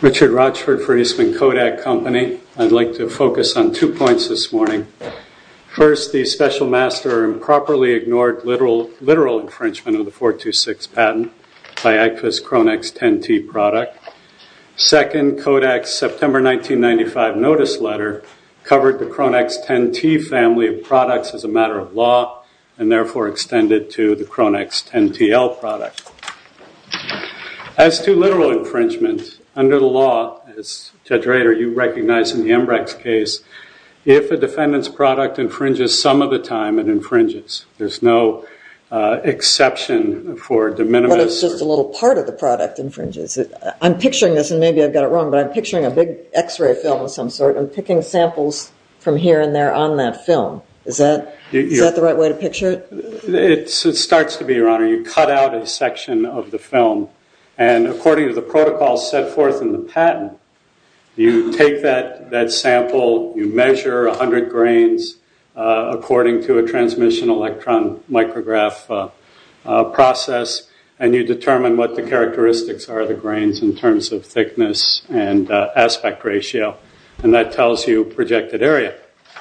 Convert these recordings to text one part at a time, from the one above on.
Richard Rochford for Eastman Kodak Company. I'd like to focus on two points this morning. First, the Special Master improperly ignored literal infringement of the 426 patent by AGFA's Cronex 10T product. Second, Kodak's September 1995 notice letter covered the Cronex 10T family of products as a matter of law and therefore extended to the Cronex 10TL product. As to literal infringement, under the law, as Judge Rader, you recognize in the Ambrex case, if a defendant's product infringes some of the time, it infringes. There's no exception for de minimis. Well, it's just a little part of the product infringes. I'm picturing this, and maybe I've got it wrong, but I'm picturing a big x-ray film of some sort. I'm picking samples from here and there on that film. Is that the right way to picture it? It starts to be, Your Honor. You cut out a section of the film, and according to the protocol set forth in the patent, you take that sample, you measure 100 grains according to a transmission electron micrograph process, and you determine what the characteristics are of the grains in terms of thickness and aspect ratio, and that tells you projected area.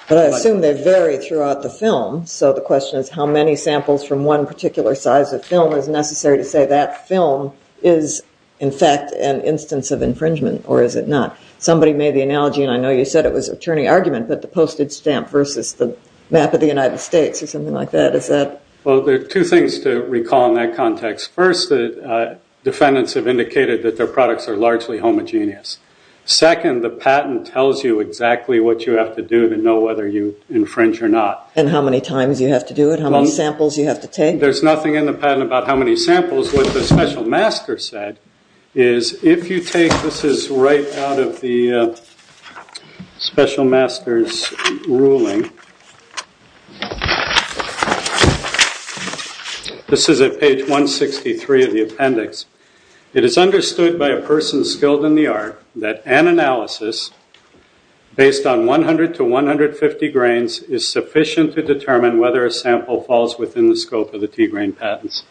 But I assume they vary throughout the film, so the question is how many samples from one particular size of film is necessary to say that film is, in fact, an instance of infringement, or is it not? Somebody made the analogy, and I know you said it was an attorney argument, but the postage stamp versus the map of the United States or something like that, is that? Well, there are two things to recall in that context. First, the defendants have indicated that their products are largely homogeneous. Second, the patent tells you exactly what you have to do to know whether you infringe or not. And how many times you have to do it? How many samples you have to take? There's nothing in the patent about how many samples. What the special master said is, if you take, this is right out of the special master's ruling. This is at page 163 of the appendix. It is understood by a person skilled in the art that an analysis based on 100 to 150 grains is sufficient to determine whether a sample falls within the scope of the T-grain patents.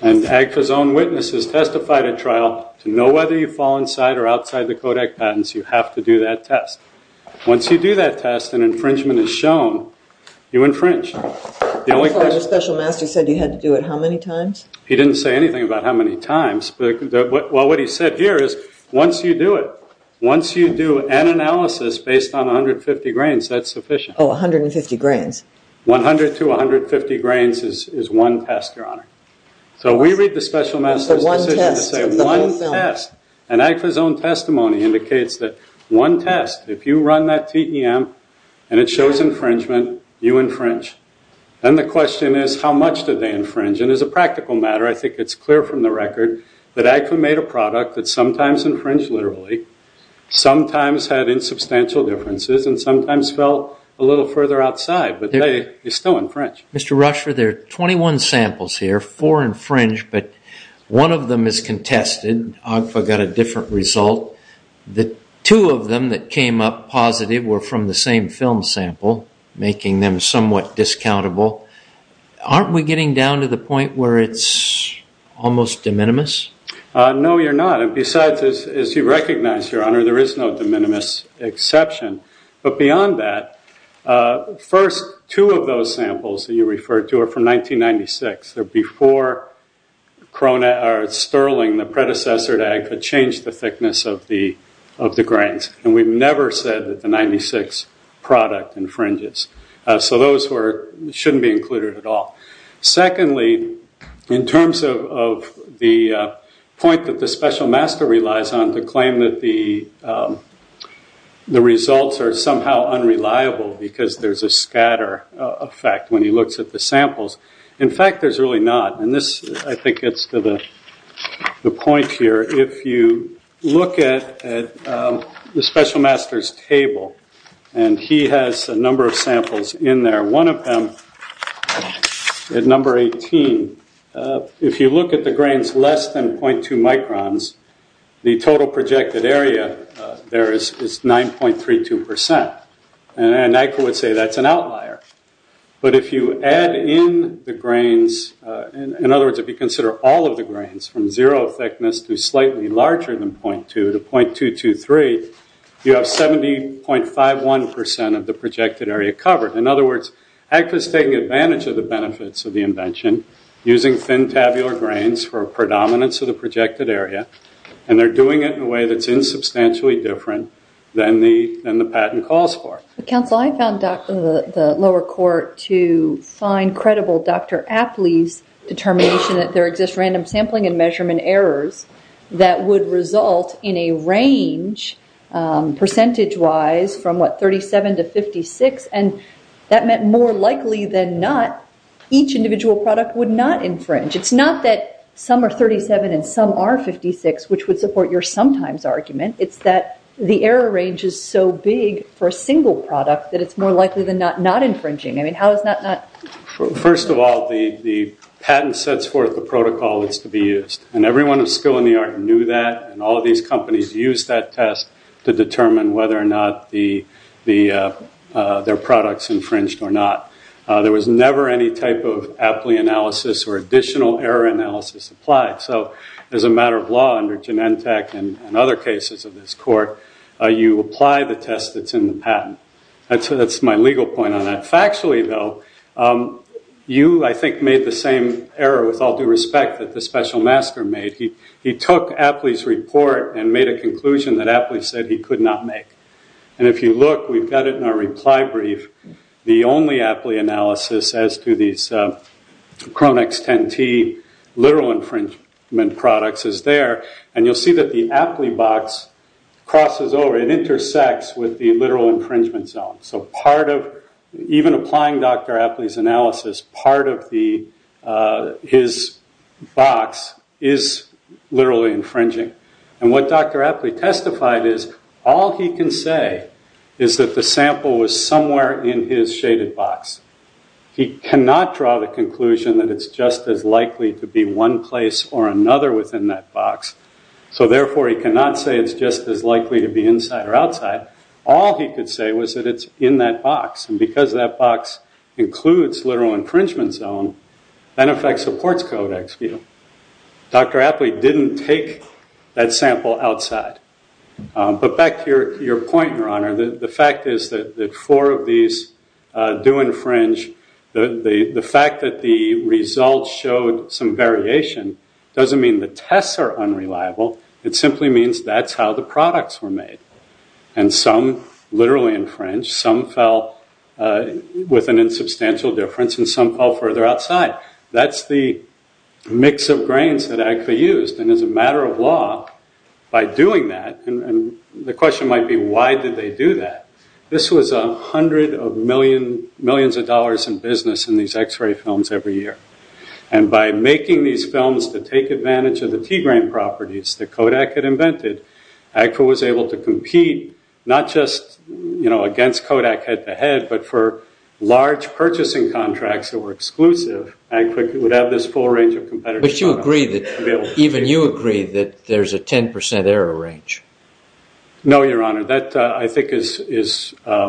And AGFA's own witnesses testified at trial to know whether you fall inside or outside the Kodak patents. You have to do that test. Once you do that test, an infringement is shown. You infringe. The special master said you had to do it how many times? He didn't say anything about how many times. Well, what he said here is once you do it, once you do an analysis based on 150 grains, that's sufficient. Oh, 150 grains. 100 to 150 grains is one test, Your Honor. So we read the special master's decision to say one test. And AGFA's own testimony indicates that one test, if you run that TEM and it shows infringement, you infringe. Then the question is, how much did they infringe? And as a practical matter, I think it's clear from the record that AGFA made a product that sometimes infringed literally, sometimes had insubstantial differences, and sometimes fell a little further outside. But they still infringe. Mr. Rushford, there are 21 samples here, four infringed, but one of them is contested. AGFA got a different result. The two of them that came up positive were from the same film sample, making them somewhat discountable. Aren't we getting down to the point where it's almost de minimis? No, you're not. And besides, as you recognize, Your Honor, there is no de minimis exception. But beyond that, first two of those samples that you referred to are from 1996. They're before Sterling, the predecessor to AGFA, changed the thickness of the grains. And we've never said that the 1996 product infringes. So those shouldn't be included at all. Secondly, in terms of the point that the special master relies on to claim that the results are somehow unreliable because there's a scatter effect when he looks at the samples, in fact, there's really not. And this, I think, gets to the point here. If you look at the special master's table, and he has a number of samples in there. One of them, at number 18, if you look at the grains less than 0.2 microns, the total projected area there is 9.32%. And AGFA would say that's an outlier. But if you add in the grains, in other words, if you consider all of the grains, from zero thickness to slightly larger than 0.2 to 0.223, you have 70.51% of the projected area covered. In other words, AGFA is taking advantage of the benefits of the invention, using thin tabular grains for predominance of the projected area, and they're doing it in a way that's insubstantially different than the patent calls for. Counsel, I found the lower court to find credible Dr. Apley's determination that there exists random sampling and measurement errors that would result in a range, percentage-wise, from, what, 37 to 56? And that meant more likely than not, each individual product would not infringe. It's not that some are 37 and some are 56, which would support your sometimes argument. It's that the error range is so big for a single product that it's more likely than not not infringing. I mean, how is that not? First of all, the patent sets forth the protocol that's to be used. And everyone at Skill in the Art knew that, and all of these companies used that test to determine whether or not their products infringed or not. There was never any type of Apley analysis or additional error analysis applied. So as a matter of law under Genentech and other cases of this court, you apply the test that's in the patent. That's my legal point on that. Factually, though, you, I think, made the same error, with all due respect, that the special master made. He took Apley's report and made a conclusion that Apley said he could not make. And if you look, we've got it in our reply brief. The only Apley analysis as to these Cronix 10T literal infringement products is there. And you'll see that the Apley box crosses over. It intersects with the literal infringement zone. So part of, even applying Dr. Apley's analysis, part of his box is literally infringing. And what Dr. Apley testified is, all he can say is that the sample was somewhere in his shaded box. He cannot draw the conclusion that it's just as likely to be one place or another within that box. So therefore, he cannot say it's just as likely to be inside or outside. All he could say was that it's in that box. And because that box includes literal infringement zone, that in fact supports codex view. Dr. Apley didn't take that sample outside. But back to your point, Your Honor, the fact is that four of these do infringe. The fact that the results showed some variation doesn't mean the tests are unreliable. It simply means that's how the products were made. And some literally infringed. Some fell with an insubstantial difference. And some fell further outside. That's the mix of grains that AGFA used. And as a matter of law, by doing that, and the question might be, why did they do that? This was a hundred of millions of dollars in business in these x-ray films every year. And by making these films to take advantage of the tea grain properties that Kodak had invented, AGFA was able to compete, not just against Kodak head to head, but for large purchasing contracts that were exclusive, AGFA would have this full range of competitors. But you agree that there's a 10% error range. No, Your Honor. That, I think, is a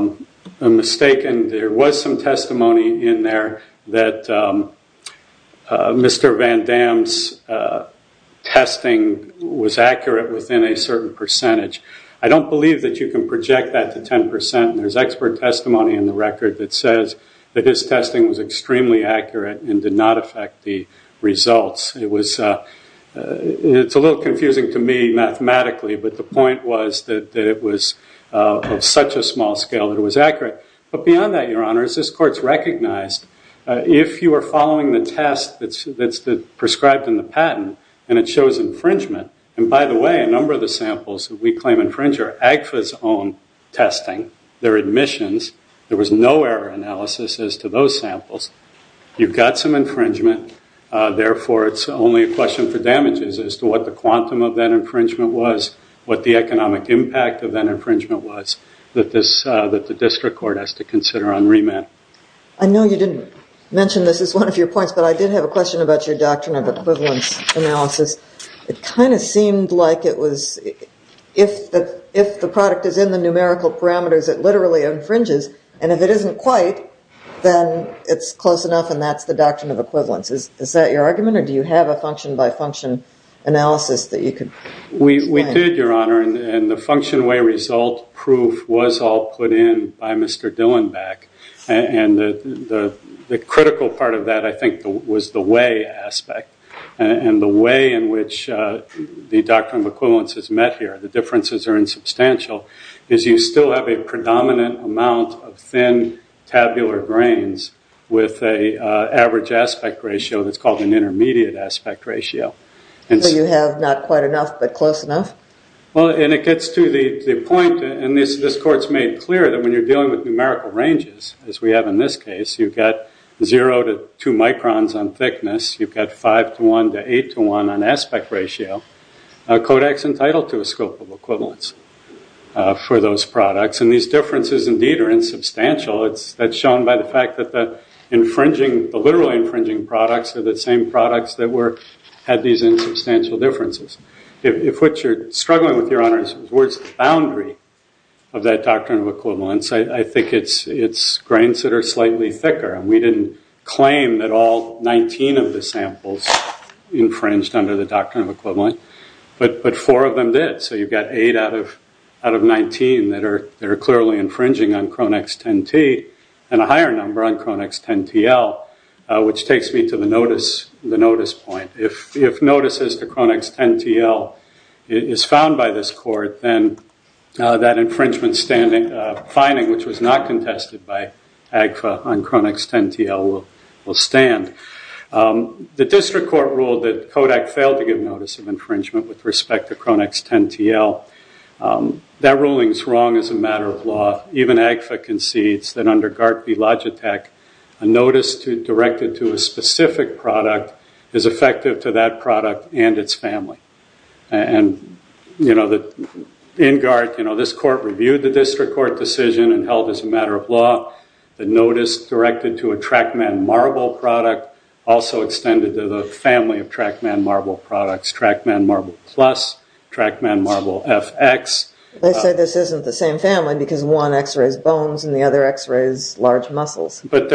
mistake. And there was some testimony in there that Mr. Van Dam's testing was accurate within a certain percentage. I don't believe that you can project that to 10%. There's expert testimony in the record that says that his testing was extremely accurate and did not affect the results. It's a little confusing to me mathematically, but the point was that it was of such a small scale that it was accurate. But beyond that, Your Honor, as this Court's recognized, if you are following the test that's prescribed in the patent and it shows infringement, and by the way, a number of the samples that we claim infringe are AGFA's own testing. They're admissions. There was no error analysis as to those samples. You've got some infringement. Therefore, it's only a question for damages as to what the quantum of that infringement was, what the economic impact of that infringement was, that the district court has to consider on remand. I know you didn't mention this as one of your points, but I did have a question about your doctrine of equivalence analysis. It kind of seemed like it was if the product is in the numerical parameters, it literally infringes, and if it isn't quite, then it's close enough, and that's the doctrine of equivalence. Is that your argument, or do you have a function-by-function analysis that you could explain? We did, Your Honor, and the function-by-result proof was all put in by Mr. Dillenbach, and the critical part of that, I think, was the way aspect, and the way in which the doctrine of equivalence is met here, the differences are insubstantial, is you still have a predominant amount of thin tabular grains with an average aspect ratio that's called an intermediate aspect ratio. So you have not quite enough, but close enough? Well, and it gets to the point, and this court's made clear that when you're dealing with numerical ranges, as we have in this case, you've got 0 to 2 microns on thickness, you've got 5 to 1 to 8 to 1 on aspect ratio. Kodak's entitled to a scope of equivalence for those products, and these differences, indeed, are insubstantial. That's shown by the fact that the literally infringing products are the same products that had these insubstantial differences. If what you're struggling with, Your Honor, is where's the boundary of that doctrine of equivalence, I think it's grains that are slightly thicker, and we didn't claim that all 19 of the samples infringed under the doctrine of equivalent, but four of them did, so you've got 8 out of 19 that are clearly infringing on Cronex 10T, and a higher number on Cronex 10TL, which takes me to the notice point. If notice as to Cronex 10TL is found by this court, then that infringement finding, which was not contested by AGFA on Cronex 10TL, will stand. The district court ruled that Kodak failed to give notice of infringement with respect to Cronex 10TL. That ruling's wrong as a matter of law. Even AGFA concedes that under GART v. Logitech, a notice directed to a specific product is effective to that product and its family. In GART, this court reviewed the district court decision and held as a matter of law the notice directed to a TrackMan Marble product also extended to the family of TrackMan Marble products, TrackMan Marble Plus, TrackMan Marble FX. They say this isn't the same family because one X-rays bones and the other X-rays large muscles. But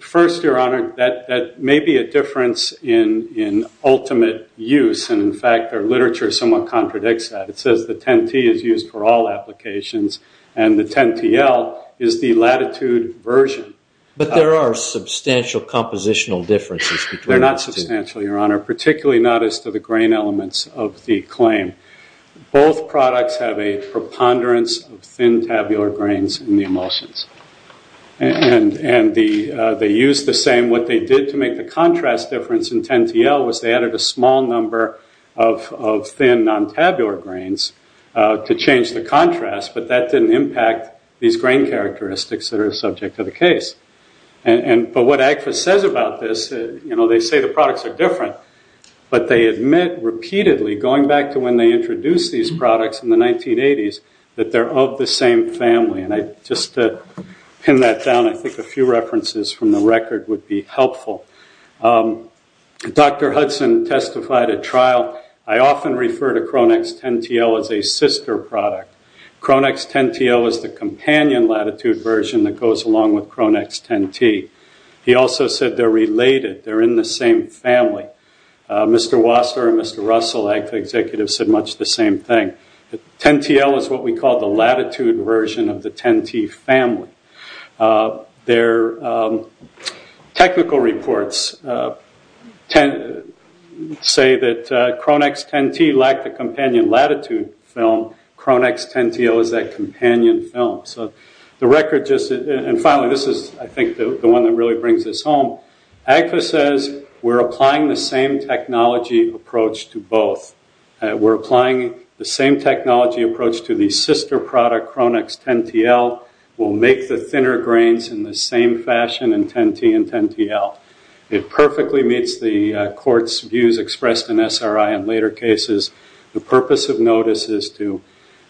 first, Your Honor, that may be a difference in ultimate use. And in fact, their literature somewhat contradicts that. It says the 10T is used for all applications, and the 10TL is the latitude version. But there are substantial compositional differences between the two. They're not substantial, Your Honor, particularly not as to the grain elements of the claim. Both products have a preponderance of thin tabular grains in the emulsions. And they use the same. What they did to make the contrast difference in 10TL was they added a small number of thin non-tabular grains to change the contrast. But that didn't impact these grain characteristics that are subject to the case. But what AGFA says about this, they say the products are different. But they admit repeatedly, going back to when they introduced these products in the 1980s, that they're of the same family. And just to pin that down, I think a few references from the record would be helpful. Dr. Hudson testified at trial, I often refer to CronX 10TL as a sister product. CronX 10TL is the companion latitude version that goes along with CronX 10T. He also said they're related, they're in the same family. Mr. Wasser and Mr. Russell, AGFA executives, said much the same thing. 10TL is what we call the latitude version of the 10T family. Their technical reports say that CronX 10T lacked the companion latitude film. CronX 10TL is that companion film. And finally, this is, I think, the one that really brings this home. AGFA says we're applying the same technology approach to both. We're applying the same technology approach to the sister product CronX 10TL. We'll make the thinner grains in the same fashion in 10T and 10TL. It perfectly meets the court's views expressed in SRI in later cases. The purpose of notice is to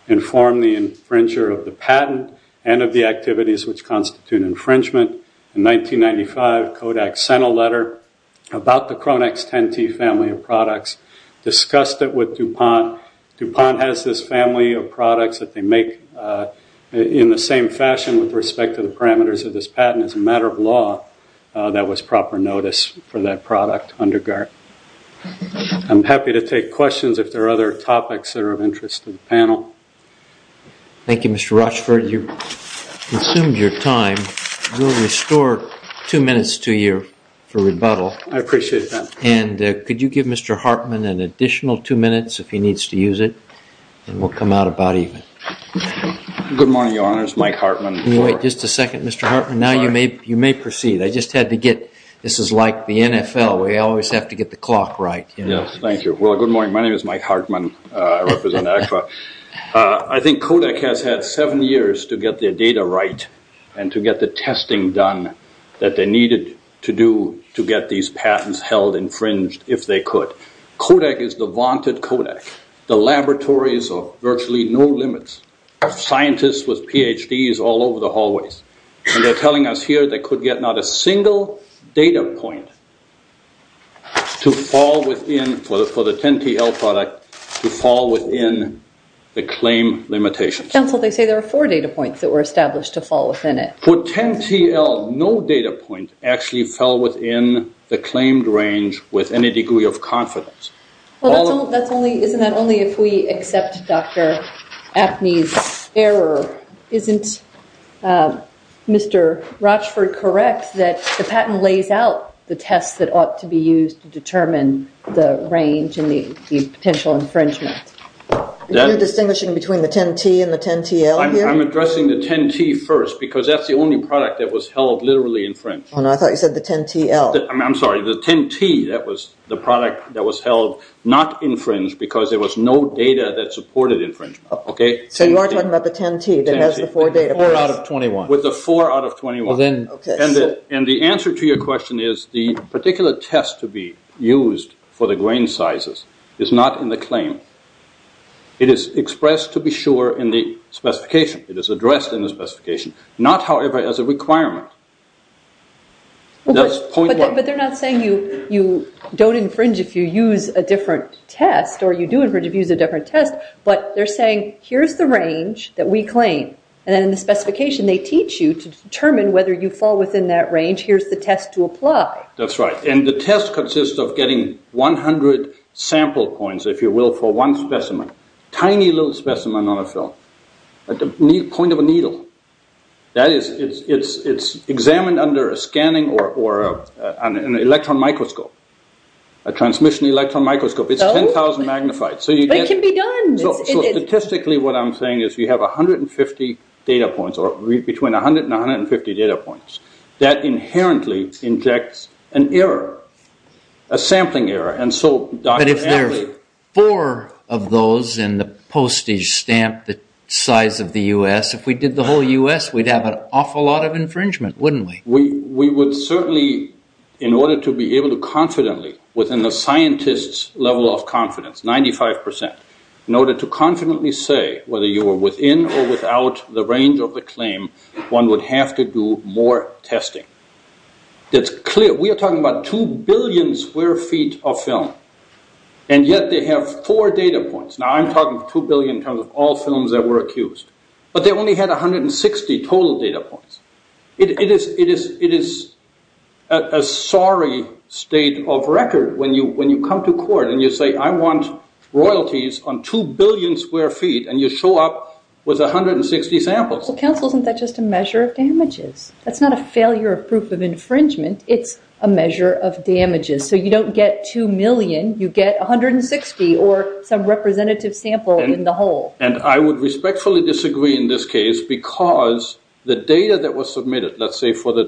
inform the infringer of the patent and of the activities which constitute infringement. In 1995, Kodak sent a letter about the CronX 10T family of products, discussed it with DuPont. DuPont has this family of products that they make in the same fashion with respect to the parameters of this patent. As a matter of law, that was proper notice for that product under guard. I'm happy to take questions if there are other topics that are of interest to the panel. Thank you, Mr. Rochford. You've consumed your time. We'll restore two minutes to you for rebuttal. I appreciate that. And could you give Mr. Hartman an additional two minutes if he needs to use it, and we'll come out about evening. Good morning, Your Honor. This is Mike Hartman. Can you wait just a second, Mr. Hartman? Now you may proceed. This is like the NFL. We always have to get the clock right. Yes, thank you. Well, good morning. My name is Mike Hartman. I represent ACFA. I think Kodak has had seven years to get their data right and to get the testing done that they needed to do to get these patents held, infringed if they could. Kodak is the vaunted Kodak. The laboratories are virtually no limits. Scientists with PhDs all over the hallways. They're telling us here they could get not a single data point to fall within, for the 10-TL product, to fall within the claim limitations. Counsel, they say there are four data points that were established to fall within it. For 10-TL, no data point actually fell within the claimed range with any degree of confidence. Isn't that only if we accept Dr. Apney's error? Isn't Mr. Rochford correct that the patent lays out the tests that ought to be used to determine the range and the potential infringement? You're distinguishing between the 10-T and the 10-TL here? I'm addressing the 10-T first because that's the only product that was held literally infringed. Oh, no, I thought you said the 10-TL. I'm sorry, the 10-T, that was the product that was held not infringed because there was no data that supported infringement. So you are talking about the 10-T that has the four data points? Four out of 21. With the four out of 21. The answer to your question is the particular test to be used for the grain sizes is not in the claim. It is expressed to be sure in the specification. It is addressed in the specification, not, however, as a requirement. But they're not saying you don't infringe if you use a different test or you do infringe if you use a different test, but they're saying here's the range that we claim, and then in the specification they teach you to determine whether you fall within that range. Here's the test to apply. That's right, and the test consists of getting 100 sample points, if you will, for one specimen, that is, it's examined under a scanning or an electron microscope, a transmission electron microscope. It's 10,000 magnified. But it can be done. So statistically what I'm saying is you have 150 data points or between 100 and 150 data points. That inherently injects an error, a sampling error. But if there are four of those in the postage stamp the size of the U.S., if we did the whole U.S., we'd have an awful lot of infringement, wouldn't we? We would certainly, in order to be able to confidently, within the scientist's level of confidence, 95%, in order to confidently say whether you were within or without the range of the claim, one would have to do more testing. That's clear. We are talking about two billion square feet of film, and yet they have four data points. Now, I'm talking two billion in terms of all films that were accused. But they only had 160 total data points. It is a sorry state of record when you come to court and you say, I want royalties on two billion square feet, and you show up with 160 samples. Well, counsel, isn't that just a measure of damages? That's not a failure of proof of infringement. It's a measure of damages. So you don't get two million. You get 160 or some representative sample in the whole. And I would respectfully disagree in this case because the data that was submitted, let's say for the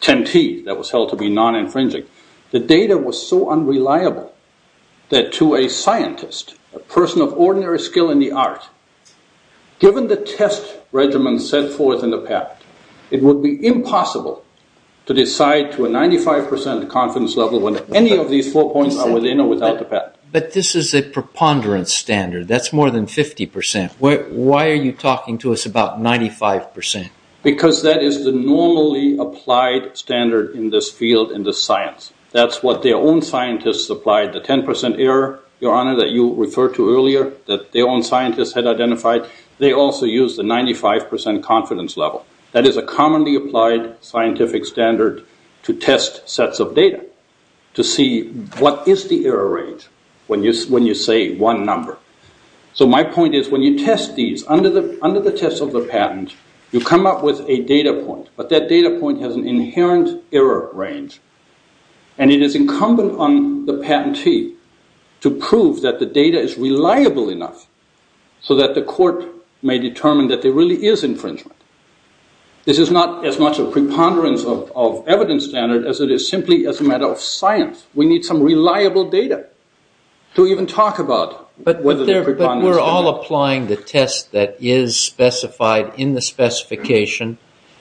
TNT that was held to be non-infringing, the data was so unreliable that to a scientist, a person of ordinary skill in the art, given the test regimen set forth in the patent, it would be impossible to decide to a 95% confidence level when any of these four points are within or without the patent. But this is a preponderance standard. That's more than 50%. Why are you talking to us about 95%? Because that is the normally applied standard in this field, in this science. That's what their own scientists applied, the 10% error, Your Honor, that you referred to earlier that their own scientists had identified. They also used the 95% confidence level. That is a commonly applied scientific standard to test sets of data, to see what is the error rate when you say one number. So my point is when you test these, under the test of the patent, you come up with a data point. But that data point has an inherent error range. And it is incumbent on the patentee to prove that the data is reliable enough so that the court may determine that there really is infringement. This is not as much a preponderance of evidence standard as it is simply as a matter of science. We need some reliable data to even talk about whether there is a preponderance standard. But we're all applying the test that is specified in the specification.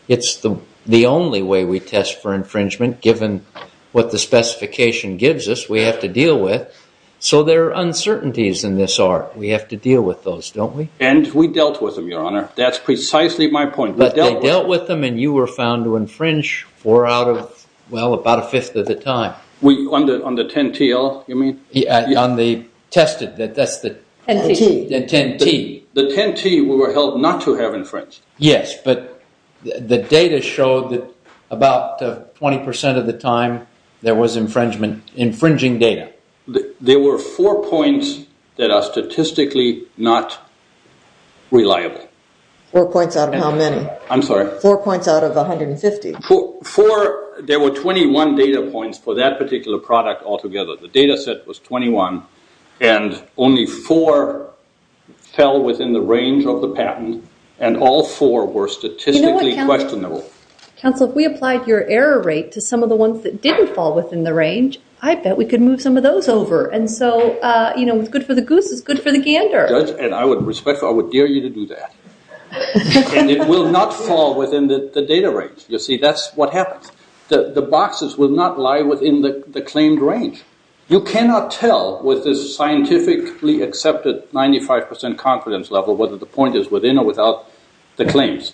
It's the only way we test for infringement given what the specification gives us we have to deal with. So there are uncertainties in this art. We have to deal with those, don't we? And we dealt with them, Your Honor. That's precisely my point. But they dealt with them and you were found to infringe four out of, well, about a fifth of the time. On the 10-T, you mean? On the tested, that's the 10-T. The 10-T we were held not to have infringed. Yes, but the data showed that about 20% of the time there was infringing data. There were four points that are statistically not reliable. Four points out of how many? I'm sorry? Four points out of 150? Four. There were 21 data points for that particular product altogether. The data set was 21 and only four fell within the range of the patent and all four were statistically questionable. Counsel, if we applied your error rate to some of the ones that didn't fall within the range, I bet we could move some of those over. And so, you know, it's good for the goose. It's good for the gander. Judge, and I would respectfully, I would dare you to do that. It will not fall within the data range. You see, that's what happens. The boxes will not lie within the claimed range. You cannot tell with this scientifically accepted 95% confidence level whether the point is within or without the claims.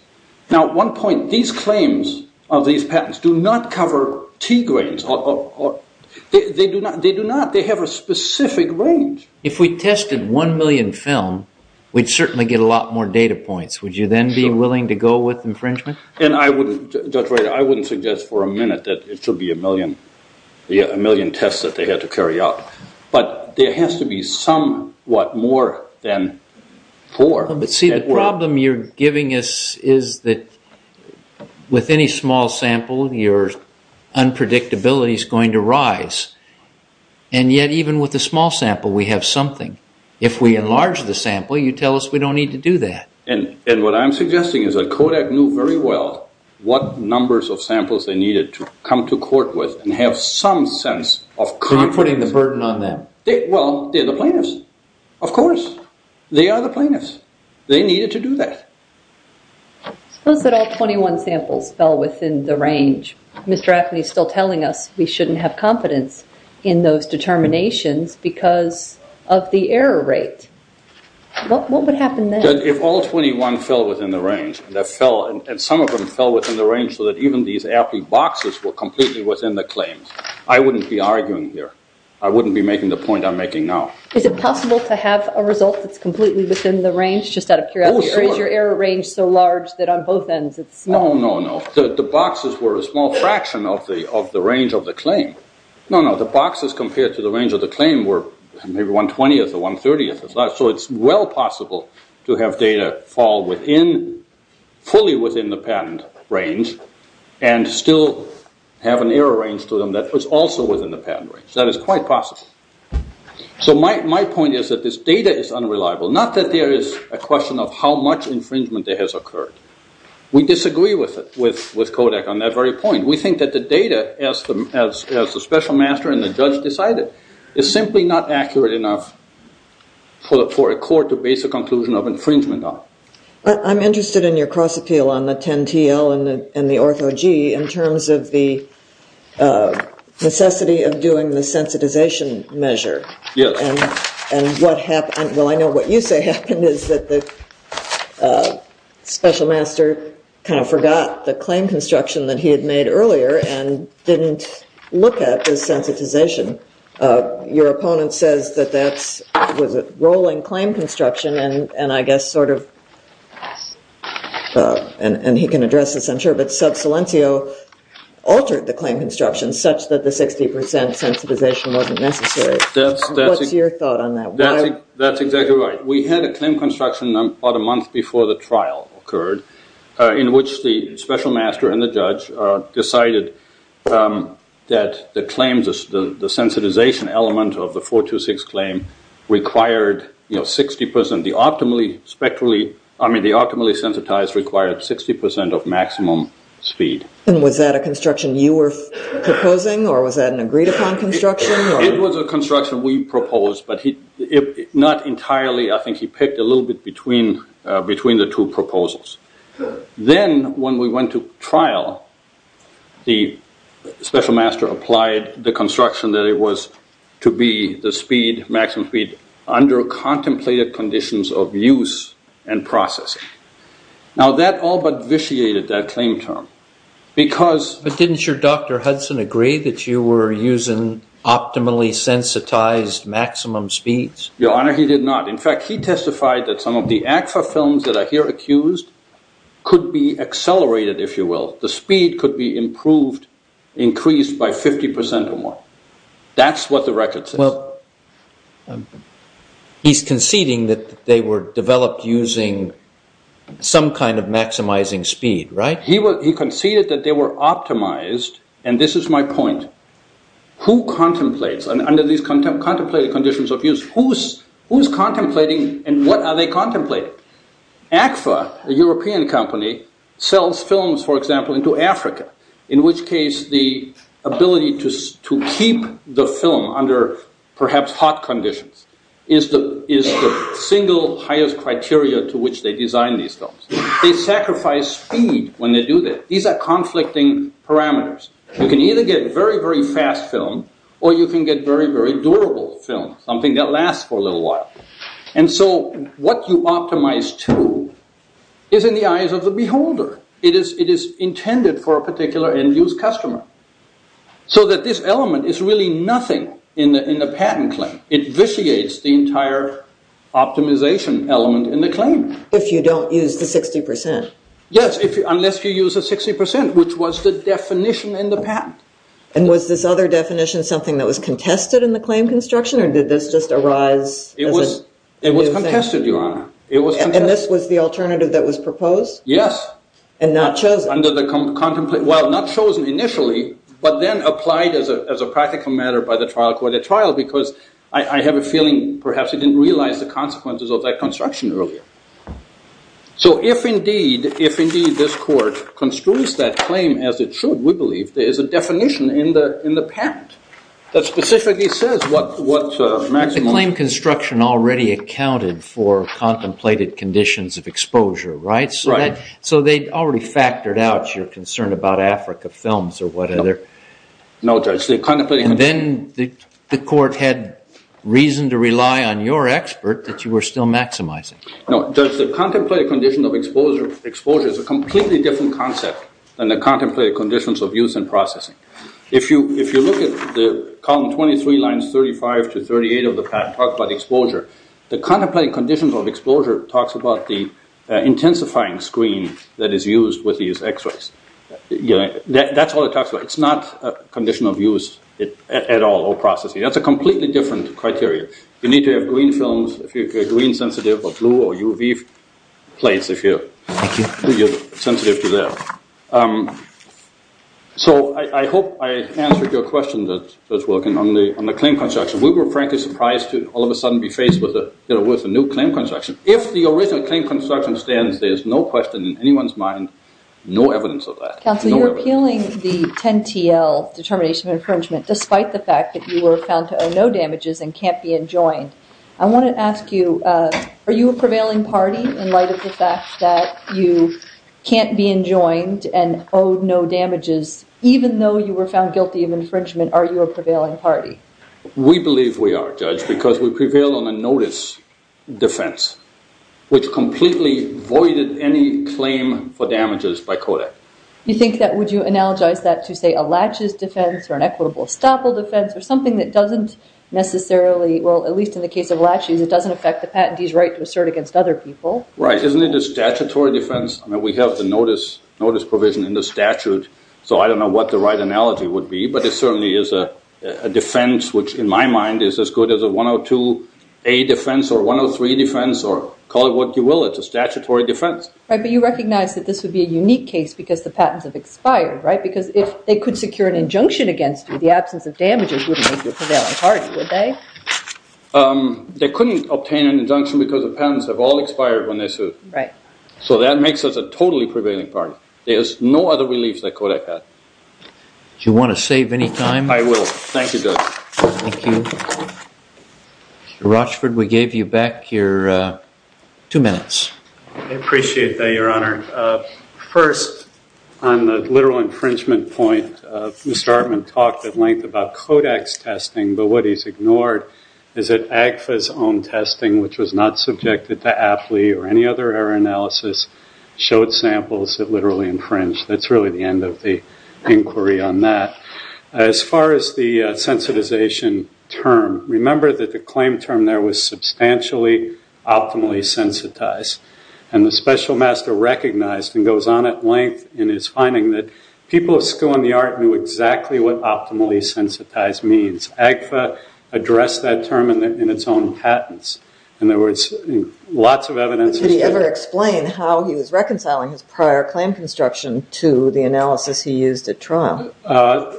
Now, one point, these claims of these patents do not cover T grains. They do not. They have a specific range. If we tested one million film, we'd certainly get a lot more data points. Would you then be willing to go with infringement? And I would, Judge Reiter, I wouldn't suggest for a minute that it should be a million tests that they had to carry out. But there has to be somewhat more than four. But see, the problem you're giving us is that with any small sample, your unpredictability is going to rise. And yet, even with a small sample, we have something. If we enlarge the sample, you tell us we don't need to do that. And what I'm suggesting is that Kodak knew very well what numbers of samples they needed to come to court with and have some sense of confidence. So you're putting the burden on them? Well, they're the plaintiffs. Of course. They are the plaintiffs. They needed to do that. Suppose that all 21 samples fell within the range. Mr. Appley is still telling us we shouldn't have confidence in those determinations because of the error rate. What would happen then? If all 21 fell within the range, and some of them fell within the range so that even these AP boxes were completely within the claims, I wouldn't be arguing here. I wouldn't be making the point I'm making now. Is it possible to have a result that's completely within the range just out of curiosity? Or is your error range so large that on both ends it's small? No, no, no. The boxes were a small fraction of the range of the claim. No, no. The boxes compared to the range of the claim were maybe 1 20th or 1 30th. So it's well possible to have data fall fully within the patent range and still have an error range to them that was also within the patent range. That is quite possible. So my point is that this data is unreliable. Not that there is a question of how much infringement there has occurred. We disagree with Kodak on that very point. We think that the data, as the special master and the judge decided, is simply not accurate enough for a court to base a conclusion of infringement on. I'm interested in your cross appeal on the 10 TL and the ortho G in terms of the necessity of doing the sensitization measure. Yes. And what happened? Well, I know what you say happened is that the special master kind of forgot the claim construction that he had made earlier and didn't look at the sensitization. Your opponent says that that was a rolling claim construction and I guess sort of, and he can address this I'm sure, but sub silencio altered the claim construction such that the 60% sensitization wasn't necessary. What's your thought on that? That's exactly right. We had a claim construction about a month before the trial occurred in which the special master and the judge decided that the claims, the sensitization element of the 426 claim required 60%, the optimally spectrally, I mean the optimally sensitized required 60% of maximum speed. And was that a construction you were proposing or was that an agreed upon construction? It was a construction we proposed, but not entirely. I think he picked a little bit between the two proposals. Then when we went to trial, the special master applied the construction that it was to be the speed, maximum speed under contemplated conditions of use and process. Now that all but vitiated that claim term. But didn't your Dr. Hudson agree that you were using optimally sensitized maximum speeds? Your Honor, he did not. In fact, he testified that some of the ACFA films that are here accused could be accelerated, if you will. The speed could be improved, increased by 50% or more. That's what the record says. He's conceding that they were developed using some kind of maximizing speed, right? He conceded that they were optimized, and this is my point. Who contemplates under these contemplated conditions of use? Who's contemplating and what are they contemplating? ACFA, a European company, sells films, for example, into Africa, in which case the ability to keep the film under perhaps hot conditions is the single highest criteria to which they design these films. They sacrifice speed when they do that. These are conflicting parameters. You can either get very, very fast film or you can get very, very durable film, something that lasts for a little while. And so what you optimize to is in the eyes of the beholder. It is intended for a particular end-use customer so that this element is really nothing in the patent claim. It vitiates the entire optimization element in the claim. If you don't use the 60%. Yes, unless you use the 60%, which was the definition in the patent. And was this other definition something that was contested in the claim construction, or did this just arise as a new thing? It was contested, Your Honor. And this was the alternative that was proposed? Yes. And not chosen? Well, not chosen initially, but then applied as a practical matter by the trial court at trial because I have a feeling perhaps it didn't realize the consequences of that construction earlier. So if indeed this court construes that claim as it should, we believe there is a definition in the patent that specifically says what maximum… The claim construction already accounted for contemplated conditions of exposure, right? Right. So they already factored out your concern about Africa films or whatever. No, Judge. And then the court had reason to rely on your expert that you were still maximizing. No, Judge. The contemplated condition of exposure is a completely different concept than the contemplated conditions of use and processing. If you look at the column 23, lines 35 to 38 of the patent, it talks about exposure. The contemplated conditions of exposure talks about the intensifying screen that is used with these x-rays. That's all it talks about. It's not a condition of use at all or processing. That's a completely different criteria. You need to have green films if you're green sensitive or blue or UV plates if you're sensitive to that. So I hope I answered your question, Judge Wilkin, on the claim construction. We were frankly surprised to all of a sudden be faced with a new claim construction. If the original claim construction stands, there is no question in anyone's mind, no evidence of that. Counsel, you're appealing the 10-TL determination of infringement despite the fact that you were found to owe no damages and can't be enjoined. I want to ask you, are you a prevailing party in light of the fact that you can't be enjoined and owe no damages? Even though you were found guilty of infringement, are you a prevailing party? We believe we are, Judge, because we prevail on a notice defense, which completely voided any claim for damages by CODAC. You think that would you analogize that to, say, a laches defense or an equitable estoppel defense or something that doesn't necessarily, well, at least in the case of laches, it doesn't affect the patentee's right to assert against other people? Right. Isn't it a statutory defense? I mean, we have the notice provision in the statute, so I don't know what the right analogy would be, but it certainly is a defense which, in my mind, is as good as a 102A defense or 103 defense or call it what you will. It's a statutory defense. Right, but you recognize that this would be a unique case because the patents have expired, right? Because if they could secure an injunction against you, the absence of damages wouldn't make you a prevailing party, would they? They couldn't obtain an injunction because the patents have all expired when they sued. Right. So that makes us a totally prevailing party. There's no other relief that CODAC had. Do you want to save any time? I will. Thank you, Judge. Thank you. Mr. Rochford, we gave you back your two minutes. I appreciate that, Your Honor. First, on the literal infringement point, Mr. Artman talked at length about CODAC's testing, but what he's ignored is that AGFA's own testing, which was not subjected to AFLI or any other error analysis, showed samples that literally infringed. That's really the end of the inquiry on that. As far as the sensitization term, remember that the claim term there was substantially optimally sensitized, and the special master recognized and goes on at length in his finding that people of skill and the art knew exactly what optimally sensitized means. AGFA addressed that term in its own patents. In other words, lots of evidence was given. Did he ever explain how he was reconciling his prior claim construction to the analysis he used at trial? He said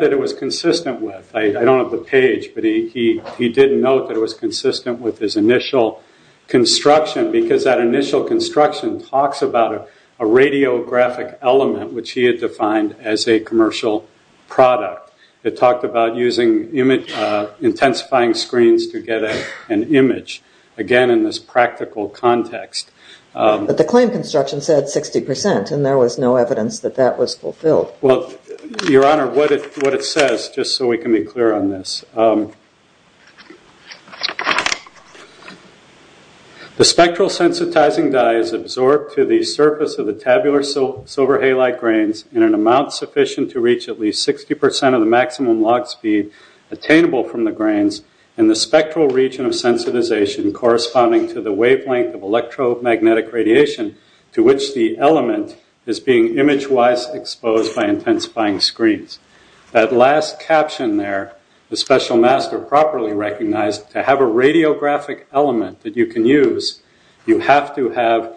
that it was consistent with. I don't have the page, but he did note that it was consistent with his initial construction because that initial construction talks about a radiographic element, which he had defined as a commercial product. It talked about using intensifying screens to get an image, again, in this practical context. But the claim construction said 60%, and there was no evidence that that was fulfilled. Your Honor, what it says, just so we can be clear on this, the spectral sensitizing dye is absorbed to the surface of the tabular silver halide grains in an amount sufficient to reach at least 60% of the maximum log speed attainable from the grains in the spectral region of sensitization corresponding to the wavelength of electromagnetic radiation to which the element is being image-wise exposed by intensifying screens. That last caption there, the special master properly recognized, to have a radiographic element that you can use, you have to have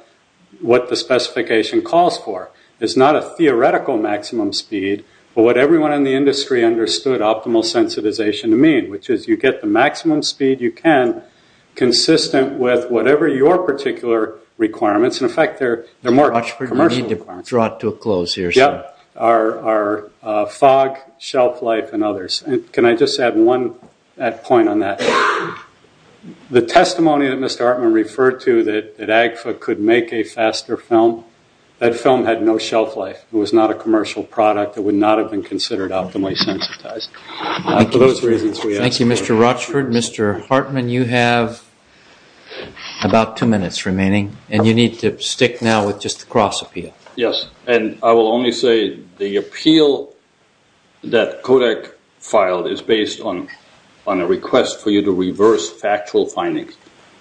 what the specification calls for. It's not a theoretical maximum speed, but what everyone in the industry understood optimal sensitization to mean, which is you get the maximum speed you can consistent with whatever your particular requirements. In fact, they're more commercial requirements. You need to draw it to a close here, sir. Our fog, shelf life, and others. Can I just add one point on that? The testimony that Mr. Artman referred to that AGFA could make a faster film, that film had no shelf life. It was not a commercial product. It would not have been considered optimally sensitized. Thank you, Mr. Rochford. Mr. Hartman, you have about two minutes remaining, and you need to stick now with just the cross-appeal. Yes, and I will only say the appeal that Kodak filed is based on a request for you to reverse factual findings.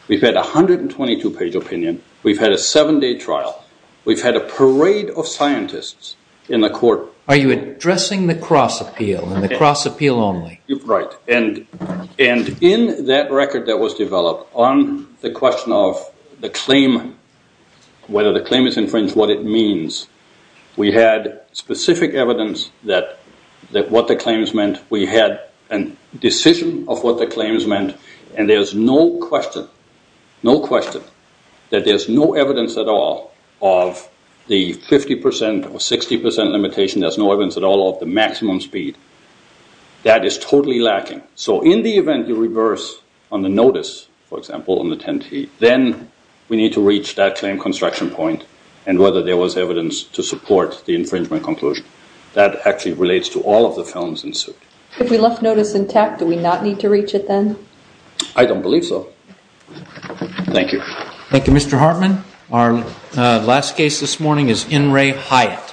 We've had a 122-page opinion. We've had a seven-day trial. We've had a parade of scientists in the court. Are you addressing the cross-appeal and the cross-appeal only? Right, and in that record that was developed on the question of the claim, whether the claim is infringed, what it means, we had specific evidence that what the claims meant. We had a decision of what the claims meant, and there's no question, no question, that there's no evidence at all of the 50% or 60% limitation. There's no evidence at all of the maximum speed. That is totally lacking. So in the event you reverse on the notice, for example, on the 10T, then we need to reach that claim construction point and whether there was evidence to support the infringement conclusion. That actually relates to all of the films in suit. If we left notice intact, do we not need to reach it then? I don't believe so. Thank you. Thank you, Mr. Hartman. Our last case this morning is N. Ray Hyatt.